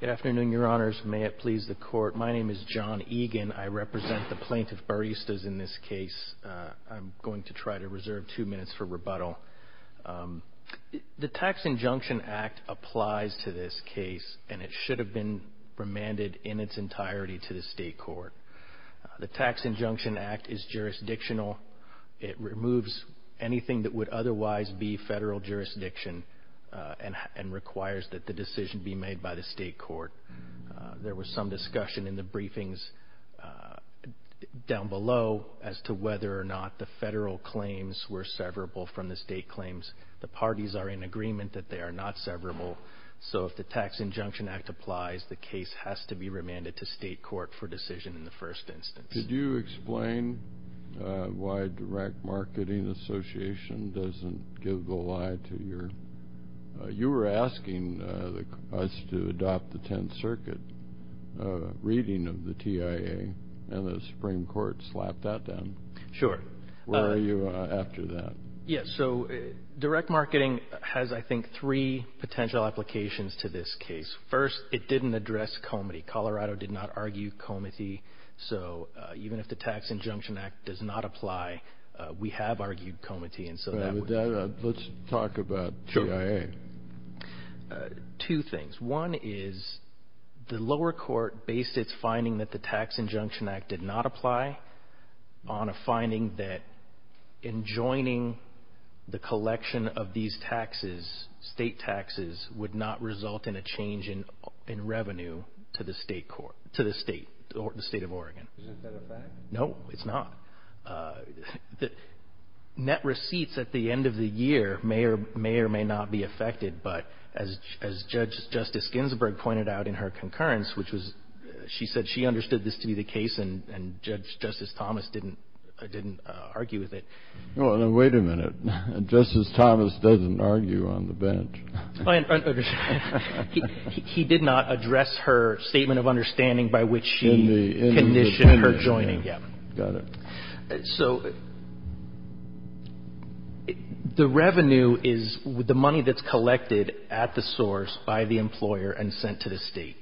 Good afternoon, your honors. May it please the court, my name is John Egan. I represent the plaintiff baristas in this case. I'm going to try to reserve two minutes for rebuttal. The tax injunction act applies to this case and it should have been remanded in its entirety to the state court. The tax injunction act is jurisdictional. It removes anything that would otherwise be federal jurisdiction. It's a jurisdiction and requires that the decision be made by the state court. There was some discussion in the briefings down below as to whether or not the federal claims were severable from the state claims. The parties are in agreement that they are not severable. So if the tax injunction act applies, the case has to be remanded to state court for decision in the first instance. Could you explain why direct marketing association doesn't give the lie to your, you were asking us to adopt the 10th circuit reading of the TIA and the Supreme Court slapped that down. Sure. Where are you after that? Yes. So direct marketing has, I think, three potential applications to this case. First, it didn't address comedy. Colorado did not argue comedy. So even if the tax injunction act does not apply, we have argued comedy. And so let's talk about two things. One is the lower court based. It's finding that the tax injunction act did not apply on a finding that in joining the collection of these taxes, state taxes would not result in a change in revenue to the state court to the state or the state of Oregon. Is that a fact? No, it's not. The net receipts at the end of the year may or may or may not be affected. But as as Judge Justice Ginsburg pointed out in her concurrence, which was she said she understood this to be the case and and Judge Justice Thomas didn't didn't argue with it. Well, wait a minute. Justice Thomas doesn't argue on the bench. He did not address her statement of understanding by which she conditioned her joining. Yeah, got it. So the revenue is the money that's collected at the source by the employer and sent to the state.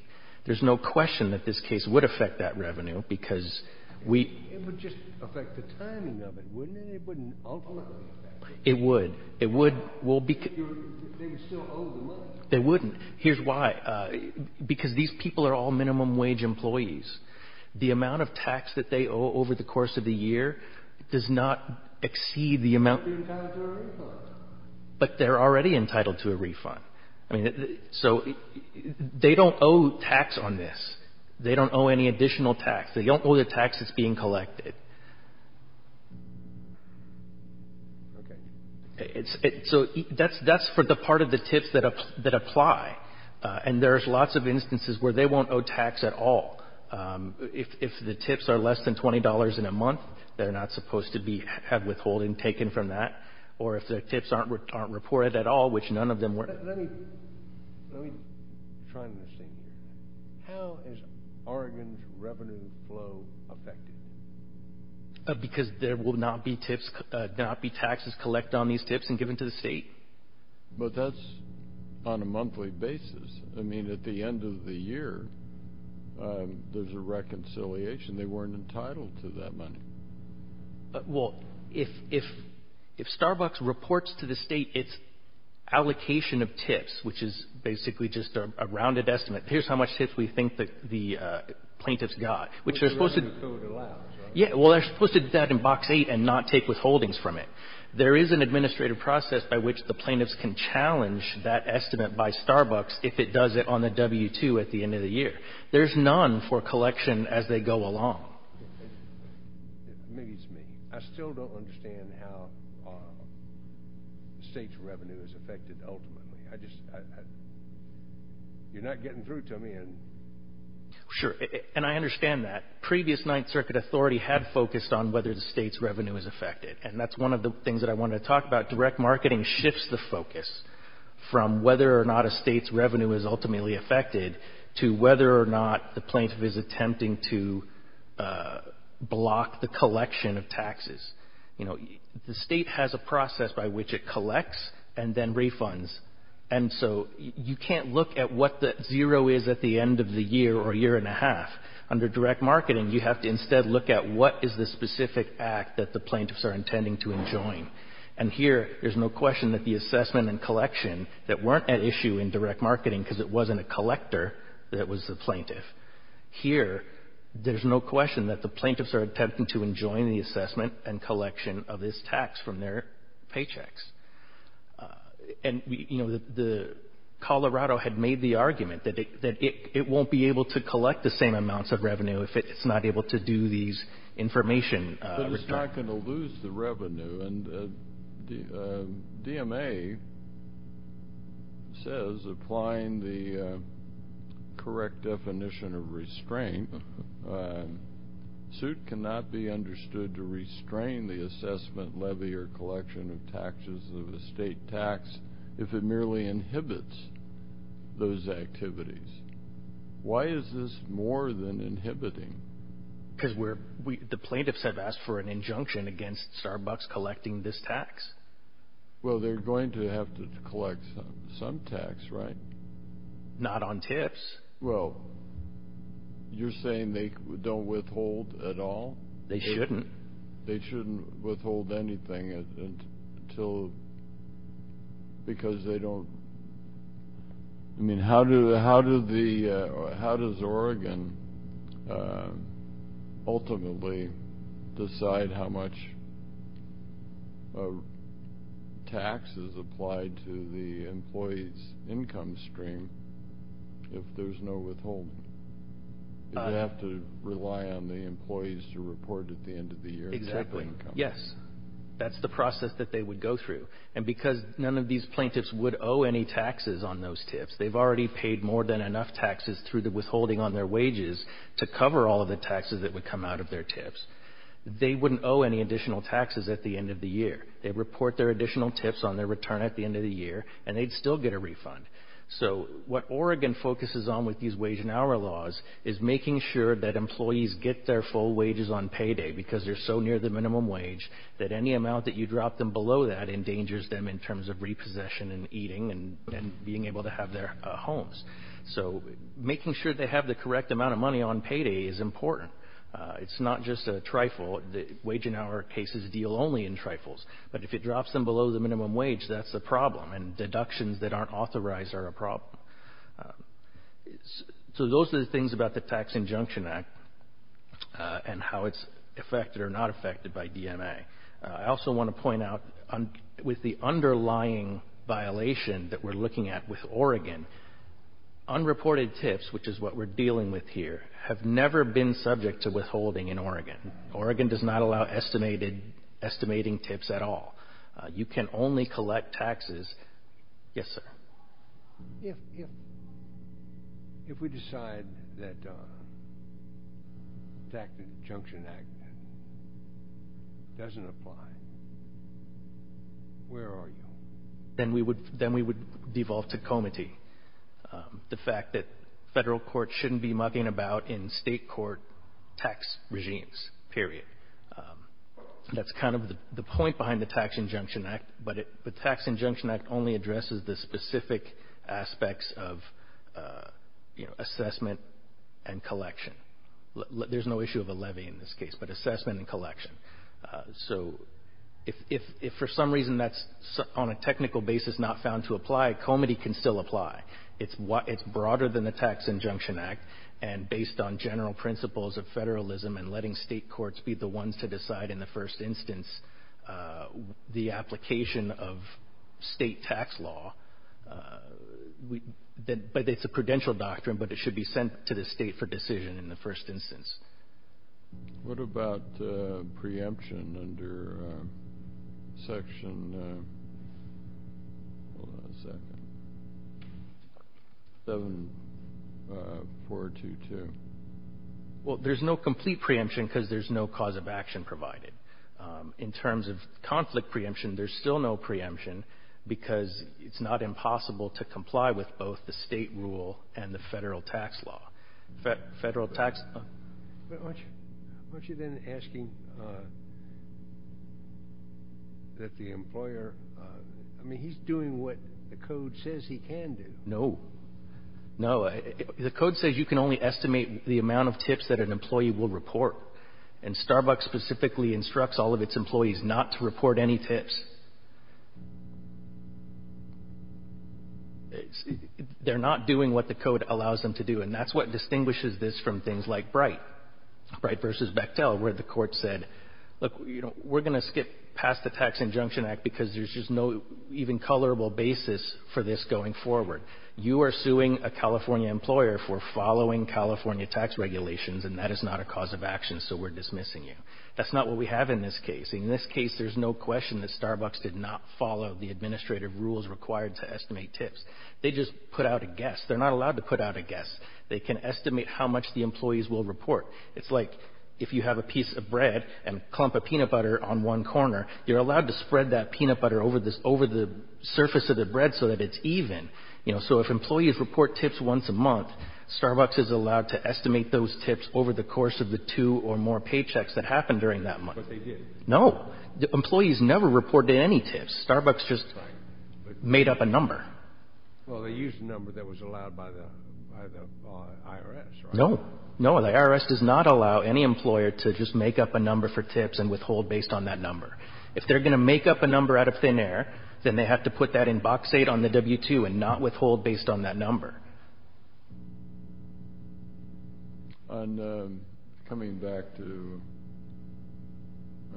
There's no question that this case would affect that revenue because we would just affect the timing of it, wouldn't it? It wouldn't. It would. It would. Well, they wouldn't. Here's why. Because these people are all minimum wage employees. The amount of tax that they owe over the course of the year does not exceed the amount, but they're already entitled to a refund. I mean, so they don't owe tax on this. They don't owe any additional tax. They don't owe the tax that's being collected. Okay, it's so that's that's for the part of the tips that that apply. And there's lots of instances where they won't owe tax at all. If the tips are less than $20 in a month, they're not supposed to be had withholding taken from that. Or if the tips aren't aren't reported at all, which none of them were, let me let me try to see how is Oregon's revenue flow affected? Because there will not be tips, not be taxes collect on these tips and given to the state. But that's on a monthly basis. I mean, at the end of the year, there's a reconciliation. They weren't entitled to that money. But well, if if if Starbucks reports to the state, it's allocation of tips, which is basically just a rounded estimate. Here's how much tips we think that the plaintiffs got, which they're supposed to allow. Yeah, well, they're supposed to do that in box eight and not take withholdings from it. There is an administrative process by which the plaintiffs can challenge that estimate by Starbucks. If it does it on the W two at the end of the year, there's none for collection as they go along. Maybe it's me. I still don't understand how our state's revenue is affected. Ultimately, I just you're not getting through to me. And sure. And I understand that previous Ninth Circuit authority had focused on whether the state's revenue is affected. And that's one of the things that I want to talk about. Direct marketing shifts the focus from whether or not a state's revenue is ultimately affected to whether or not the plaintiff is attempting to block the collection of taxes. You know, the state has a process by which it collects and then refunds. And so you can't look at what the zero is at the end of the year or year and a half. Under direct marketing, you have to instead look at what is the specific act that the plaintiffs are intending to enjoin. And here, there's no question that the assessment and collection that weren't an issue in direct marketing because it wasn't a collector that was the plaintiff. Here, there's no question that the plaintiffs are attempting to enjoin the assessment and collection of this tax from their paychecks. And, you know, the Colorado had made the argument that it won't be able to collect the same amounts of revenue if it's not able to do these information. But it's not going to lose the revenue. And the DMA says, applying the correct definition of restraint, suit cannot be understood to restrain the assessment, levy, or collection of taxes of a state tax if it merely inhibits those activities. Why is this more than inhibiting? Because the plaintiffs have asked for an injunction against Starbucks collecting this tax. Well, they're going to have to collect some tax, right? Not on tips. Well, you're saying they don't withhold at all? They shouldn't. They shouldn't withhold anything until...because they don't...I mean, how does Oregon ultimately decide how much tax is applied to the employee's income stream if there's no withholding? You'd have to rely on the employees to report at the end of the year. Exactly. Yes. That's the process that they would go through. And because none of these plaintiffs would owe any taxes on those tips, they've already paid more than enough taxes through the withholding on their wages to cover all of the taxes that would come out of their tips. They wouldn't owe any additional taxes at the end of the year. They'd report their additional tips on their return at the end of the year, and they'd still get a refund. So what Oregon focuses on with these wage and hour laws is making sure that employees get their full wages on payday because they're so near the minimum wage that any amount that you drop them below that endangers them in terms of repossession and eating and being able to have their homes. So making sure they have the correct amount of money on payday is important. It's not just a trifle. The wage and hour cases deal only in trifles. But if it drops them below the minimum wage, that's a problem. And deductions that aren't authorized are a problem. So those are the things about the Tax Injunction Act and how it's affected or not affected by DMA. I also want to point out with the underlying violation that we're looking at with Oregon, unreported tips, which is what we're dealing with here, have never been subject to withholding in Oregon. Oregon does not allow estimating tips at all. You can only collect taxes. Yes, sir. If we decide that the Tax Injunction Act doesn't apply, where are you? Then we would devolve to comity. The fact that federal courts shouldn't be mucking about in state court tax regimes. Period. That's kind of the point behind the Tax Injunction Act. But the Tax Injunction Act only addresses the specific aspects of assessment and collection. There's no issue of a levy in this case, but assessment and collection. So if for some reason that's on a technical basis not found to apply, comity can still apply. It's broader than the Tax Injunction Act. And based on general principles of federalism and letting state courts be the ones to decide in the first instance the application of state tax law, it's a prudential doctrine, but it should be sent to the state for decision in the first instance. What about preemption under Section 7422? Well, there's no complete preemption because there's no cause of action provided. In terms of conflict preemption, there's still no preemption because it's not impossible to comply with both the state rule and the federal tax law. But aren't you then asking that the employer, I mean, he's doing what the code says he can do. No. No. The code says you can only estimate the amount of tips that an employee will report. And Starbucks specifically instructs all of its employees not to report any tips. They're not doing what the code allows them to do. And that's what distinguishes this from things like Bright versus Bechtel, where the court said, look, we're going to skip past the Tax Injunction Act because there's just no even colorable basis for this going forward. You are suing a California employer for following California tax regulations, and that is not a cause of action. So we're dismissing you. That's not what we have in this case. In this case, there's no question that Starbucks did not follow the administrative rules required to estimate tips. They just put out a guess. They're not allowed to put out a guess. They can estimate how much the employees will report. It's like if you have a piece of bread and clump a peanut butter on one corner, you're allowed to spread that peanut butter over this, over the surface of the bread so that it's even. You know, so if employees report tips once a month, Starbucks is allowed to estimate those tips over the course of the two or more paychecks that happened during that month. But they didn't. No. Employees never reported any tips. Starbucks just made up a number. Well, they used a number that was allowed by the IRS. No, no, the IRS does not allow any employer to just make up a number for tips and withhold based on that number. If they're going to make up a number out of thin air, then they have to put that in box eight on the W-2 and not withhold based on that number. On coming back to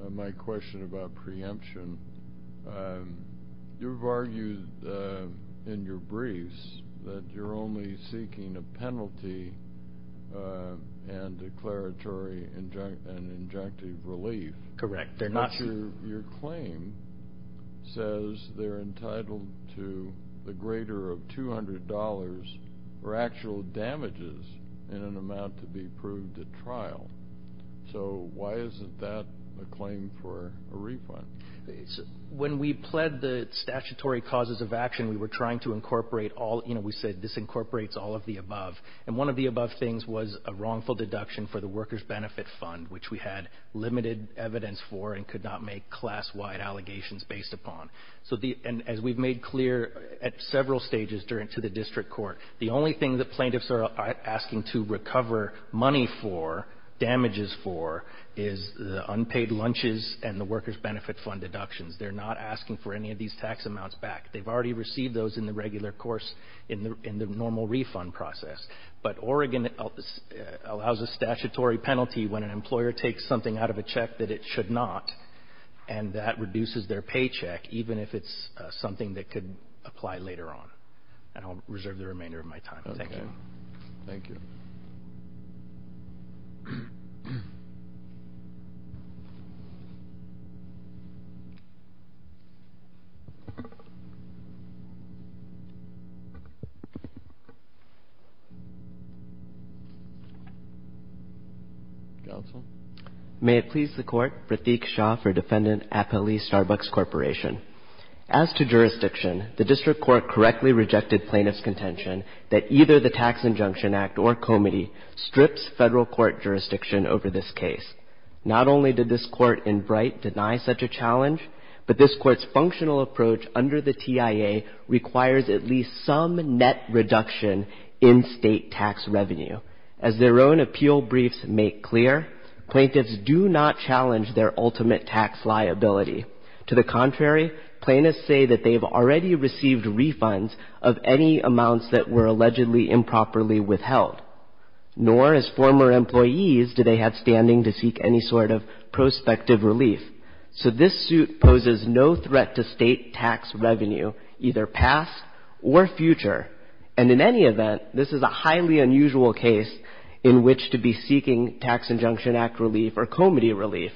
my question about preemption, you've argued in your briefs that you're only seeking a penalty and declaratory and injunctive relief. Correct. But your claim says they're entitled to the greater of $200 for actual damages in an amount to be proved at trial. So why isn't that a claim for a refund? When we pled the statutory causes of action, we were trying to incorporate all, you know, we said this incorporates all of the above. And one of the above things was a wrongful deduction for the workers' benefit fund, which we had limited evidence for and could not make class-wide allegations based upon. So as we've made clear at several stages to the district court, the only thing that plaintiffs are asking to recover money for, damages for, is the unpaid lunches and the workers' benefit fund deductions. They're not asking for any of these tax amounts back. They've already received those in the regular course in the normal refund process. But Oregon allows a statutory penalty when an employer takes something out of a check that it should not, and that reduces their paycheck, even if it's something that could apply later on. And I'll reserve the remainder of my time. Thank you. Thank you. Counsel. May it please the court, Pratik Shah for Defendant Appelee Starbucks Corporation. As to jurisdiction, the district court correctly rejected plaintiff's contention that either the Tax Injunction Act or Comity strips federal court jurisdiction over this case. Not only did this court in Bright deny such a challenge, but this court's functional approach under the TIA requires at least some net reduction in state tax revenue. As their own appeal briefs make clear, plaintiffs do not challenge their ultimate tax liability. To the contrary, plaintiffs say that they've already received refunds of any amounts that were allegedly improperly withheld. Nor, as former employees, do they have standing to seek any sort of prospective relief. So this suit poses no threat to state tax revenue, either past or future. And in any event, this is a highly unusual case in which to be seeking Tax Injunction Act relief or Comity relief.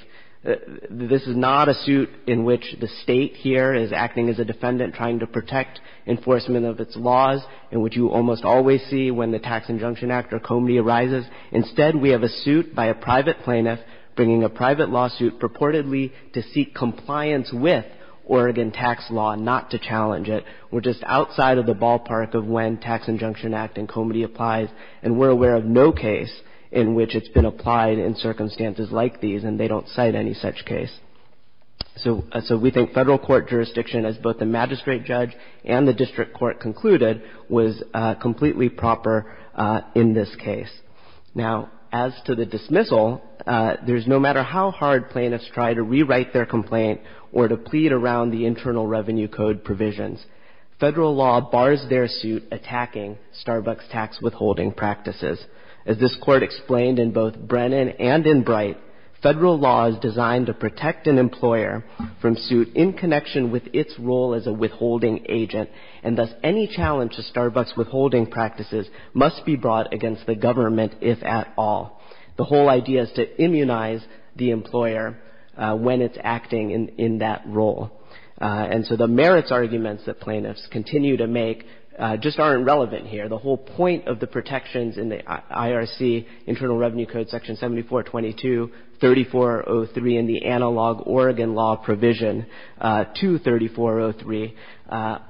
This is not a suit in which the state here is acting as a defendant trying to protect enforcement of its laws, in which you almost always see when the Tax Injunction Act or Comity arises. Instead, we have a suit by a private plaintiff bringing a private lawsuit purportedly to seek compliance with Oregon tax law, not to challenge it. We're just outside of the ballpark of when Tax Injunction Act and Comity applies. And we're aware of no case in which it's been applied in circumstances like these, and they don't cite any such case. So we think federal court jurisdiction, as both the magistrate judge and the district court concluded, was completely proper in this case. Now, as to the dismissal, there's no matter how hard plaintiffs try to rewrite their complaint or to plead around the Internal Revenue Code provisions, federal law bars their suit attacking Starbucks tax withholding practices. As this court explained in both Brennan and in Bright, federal law is designed to protect an employer from suit in connection with its role as a withholding agent. And thus, any challenge to Starbucks withholding practices must be brought against the government, if at all. The whole idea is to immunize the employer when it's acting in that role. And so the merits arguments that plaintiffs continue to make just aren't relevant here. The whole point of the protections in the IRC Internal Revenue Code, Section 7422, 3403, and the analog Oregon law provision, 23403,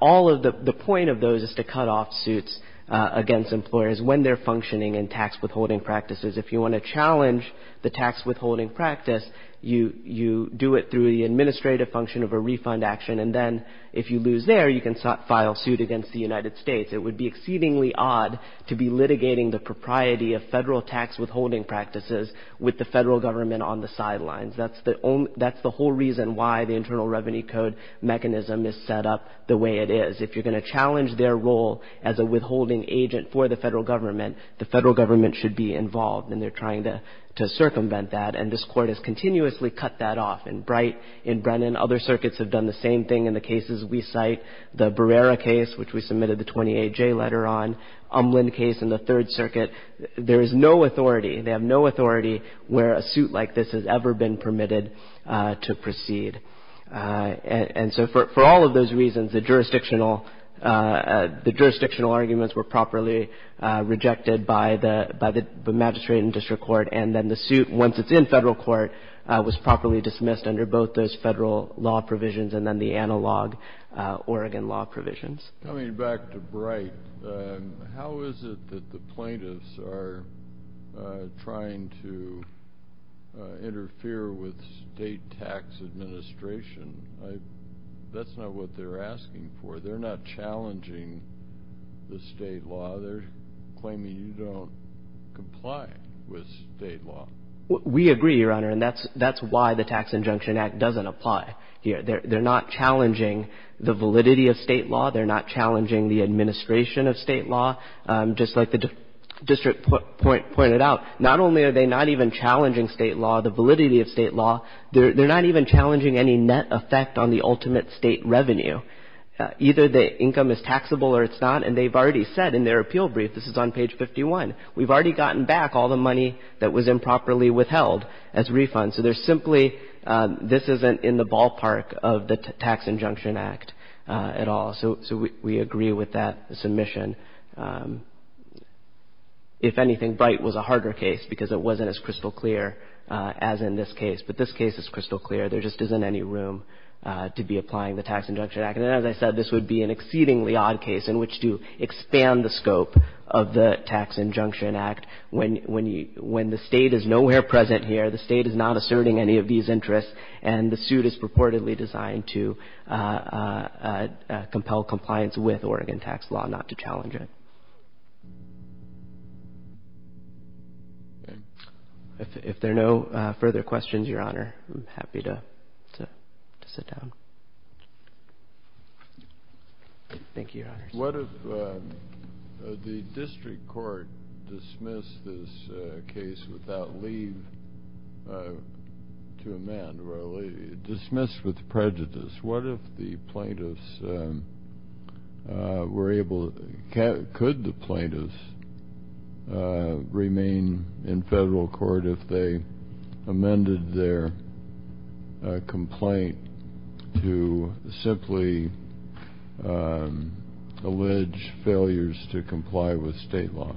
all of the point of those is to cut off suits against employers when they're functioning in tax withholding practices. If you want to challenge the tax withholding practice, you do it through the administrative function of a refund action. And then if you lose there, you can file suit against the United States. It would be exceedingly odd to be litigating the propriety of federal tax withholding practices with the federal government on the sidelines. That's the whole reason why the Internal Revenue Code mechanism is set up the way it is. If you're going to challenge their role as a withholding agent for the federal government, the federal government should be involved. And they're trying to circumvent that. And this Court has continuously cut that off. In Bright, in Brennan, other circuits have done the same thing in the cases we cite. The Barrera case, which we submitted the 28-J letter on, Umland case in the Third Circuit, there is no authority. They have no authority where a suit like this has ever been permitted to proceed. And so for all of those reasons, the jurisdictional arguments were properly rejected by the magistrate and district court. And then the suit, once it's in federal court, was properly dismissed under both those federal law provisions and then the analog Oregon law provisions. Coming back to Bright, how is it that the plaintiffs are trying to interfere with state tax administration? That's not what they're asking for. They're not challenging the state law. They're claiming you don't comply with state law. We agree, Your Honor. And that's why the Tax Injunction Act doesn't apply here. They're not challenging the validity of state law. They're not challenging the administration of state law. Just like the district point pointed out, not only are they not even challenging state law, the validity of state law, they're not even challenging any net effect on the ultimate state revenue. Either the income is taxable or it's not. And they've already said in their appeal brief, this is on page 51, we've already gotten back all the money that was improperly withheld as refunds. So there's simply this isn't in the ballpark of the Tax Injunction Act at all. So we agree with that submission. If anything, Bright was a harder case because it wasn't as crystal clear as in this case. But this case is crystal clear. There just isn't any room to be applying the Tax Injunction Act. And as I said, this would be an exceedingly odd case in which to expand the scope of the Tax Injunction Act when the State is nowhere present here. The State is not asserting any of these interests and the suit is purportedly designed to compel compliance with Oregon tax law, not to challenge it. If there are no further questions, Your Honor, I'm happy to sit down. What if the district court dismissed this case without leave to amend? Well, dismissed with prejudice. What if the plaintiffs were able, could the plaintiffs remain in federal court if they amended their complaint to simply allege failures to comply with state law?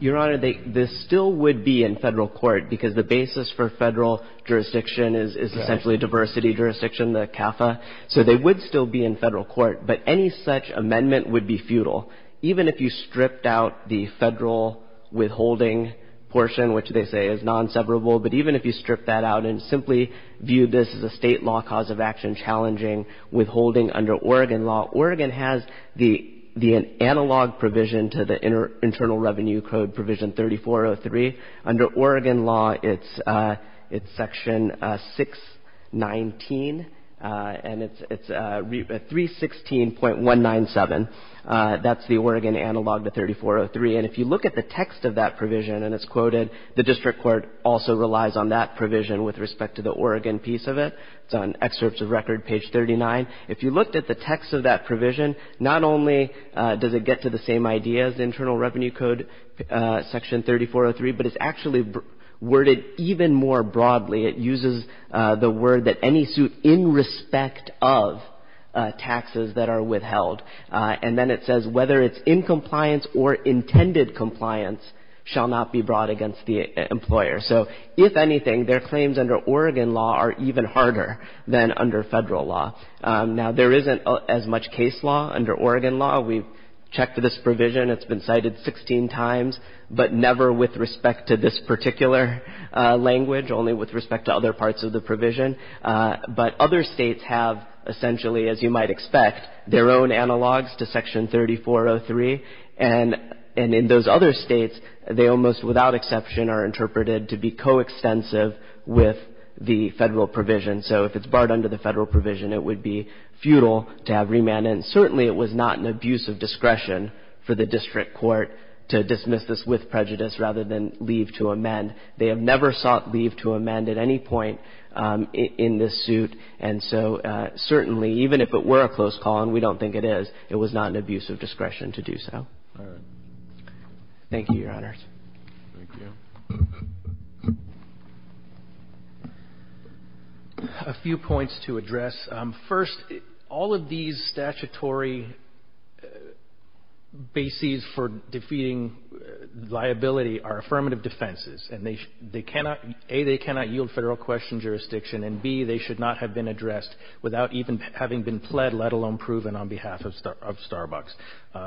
Your Honor, this still would be in federal court because the basis for federal jurisdiction is essentially a diversity jurisdiction, the CAFA. So they would still be in federal court. But any such amendment would be futile, even if you stripped out the federal withholding portion, which they say is non-separable. But even if you stripped that out and simply viewed this as a state law cause of action challenging withholding under Oregon law, Oregon has the analog provision to the Internal Revenue Code Provision 3403. Under Oregon law, it's Section 619 and it's 316.197. That's the Oregon analog to 3403. And if you look at the text of that provision and it's quoted, the district court also relies on that provision with respect to the Oregon piece of it. It's on excerpts of record, page 39. If you looked at the text of that provision, not only does it get to the same idea as the Internal Revenue Code Section 3403, but it's actually worded even more broadly. It uses the word that any suit in respect of taxes that are withheld. And then it says whether it's in compliance or intended compliance shall not be brought against the employer. So if anything, their claims under Oregon law are even harder than under federal law. Now, there isn't as much case law under Oregon law. We've checked this provision. It's been cited 16 times, but never with respect to this particular language, only with respect to other parts of the provision. But other states have essentially, as you might expect, their own analogs to Section 3403. And in those other states, they almost without exception are interpreted to be coextensive with the federal provision. So if it's barred under the federal provision, it would be futile to have remand. And certainly it was not an abuse of discretion for the district court to dismiss this with prejudice rather than leave to amend. They have never sought leave to amend at any point in this suit. And so certainly, even if it were a close call, and we don't think it is, it was not an abuse of discretion to do so. Thank you, Your Honors. A few points to address. First, all of these statutory bases for defeating liability are affirmative defenses. And they cannot, A, they cannot yield federal question jurisdiction. And, B, they should not have been addressed without even having been pled, let alone proven on behalf of Starbucks.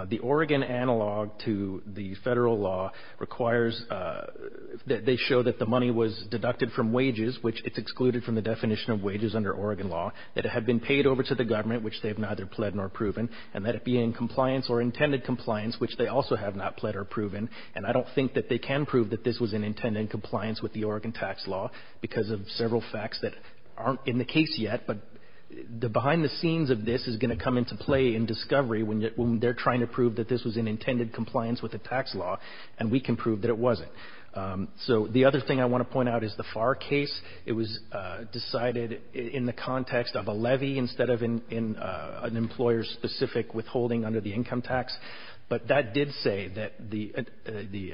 The Oregon analog to the federal law requires that they show that the money was deducted from wages, which it's excluded from the definition of wages under Oregon law, that it had been paid over to the government, which they have neither pled nor proven, and that it be in compliance or intended compliance, which they also have not pled or proven. And I don't think that they can prove that this was an intended compliance with the Oregon tax law because of several facts that aren't in the case yet, but the behind the scenes of this is going to come into play in discovery when they're trying to prove that this was an intended compliance with the tax law, and we can prove that it wasn't. So the other thing I want to point out is the Farr case. It was decided in the context of a levy instead of in an employer-specific withholding under the income tax. But that did say that the,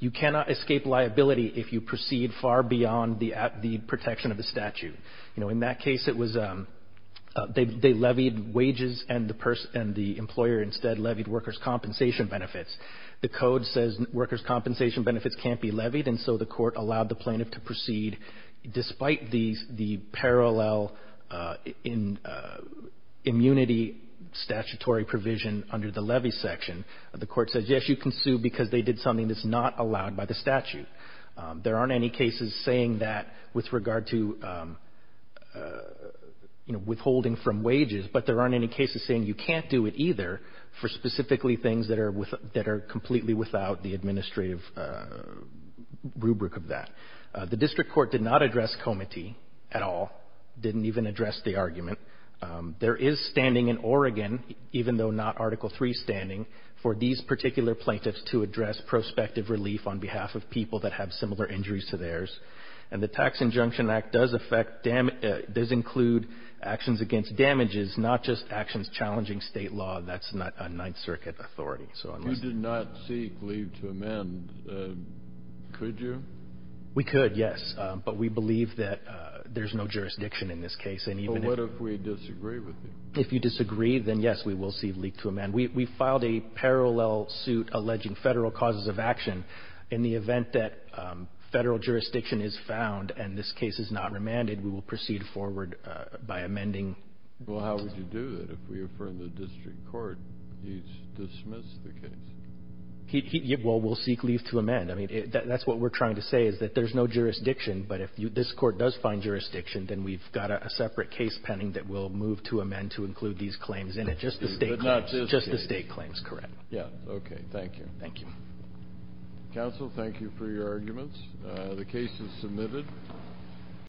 you cannot escape liability if you proceed far beyond the protection of the statute. You know, in that case, it was, they levied wages and the employer instead levied workers' compensation benefits. The code says workers' compensation benefits can't be levied, and so the court allowed the plaintiff to proceed despite the parallel in immunity statutory provision under the levy section. The court says, yes, you can sue because they did something that's not allowed by the statute. There aren't any cases saying that with regard to, you know, withholding from wages, but there aren't any cases saying you can't do it either for specifically things that are completely without the administrative rubric of that. The district court did not address comity at all, didn't even address the argument. There is standing in Oregon, even though not Article III standing, for these particular plaintiffs to address prospective relief on behalf of people that have similar injuries to theirs. And the Tax Injunction Act does affect, does include actions against damages, not just actions challenging state law. That's not a Ninth Circuit authority. If you did not seek leave to amend, could you? We could, yes. But we believe that there's no jurisdiction in this case. And even if... What if we disagree with you? If you disagree, then yes, we will seek leave to amend. We filed a parallel suit alleging federal causes of action. In the event that federal jurisdiction is found and this case is not remanded, we will proceed forward by amending... Well, how would you do that? If we affirm the district court, he's dismissed the case. He... Well, we'll seek leave to amend. I mean, that's what we're trying to say, is that there's no jurisdiction. But if this court does find jurisdiction, then we've got a separate case pending that we'll move to amend to include these claims in it. Just the state claims, just the state claims. Correct. Yeah. Okay. Thank you. Thank you. Counsel, thank you for your arguments. The case is submitted.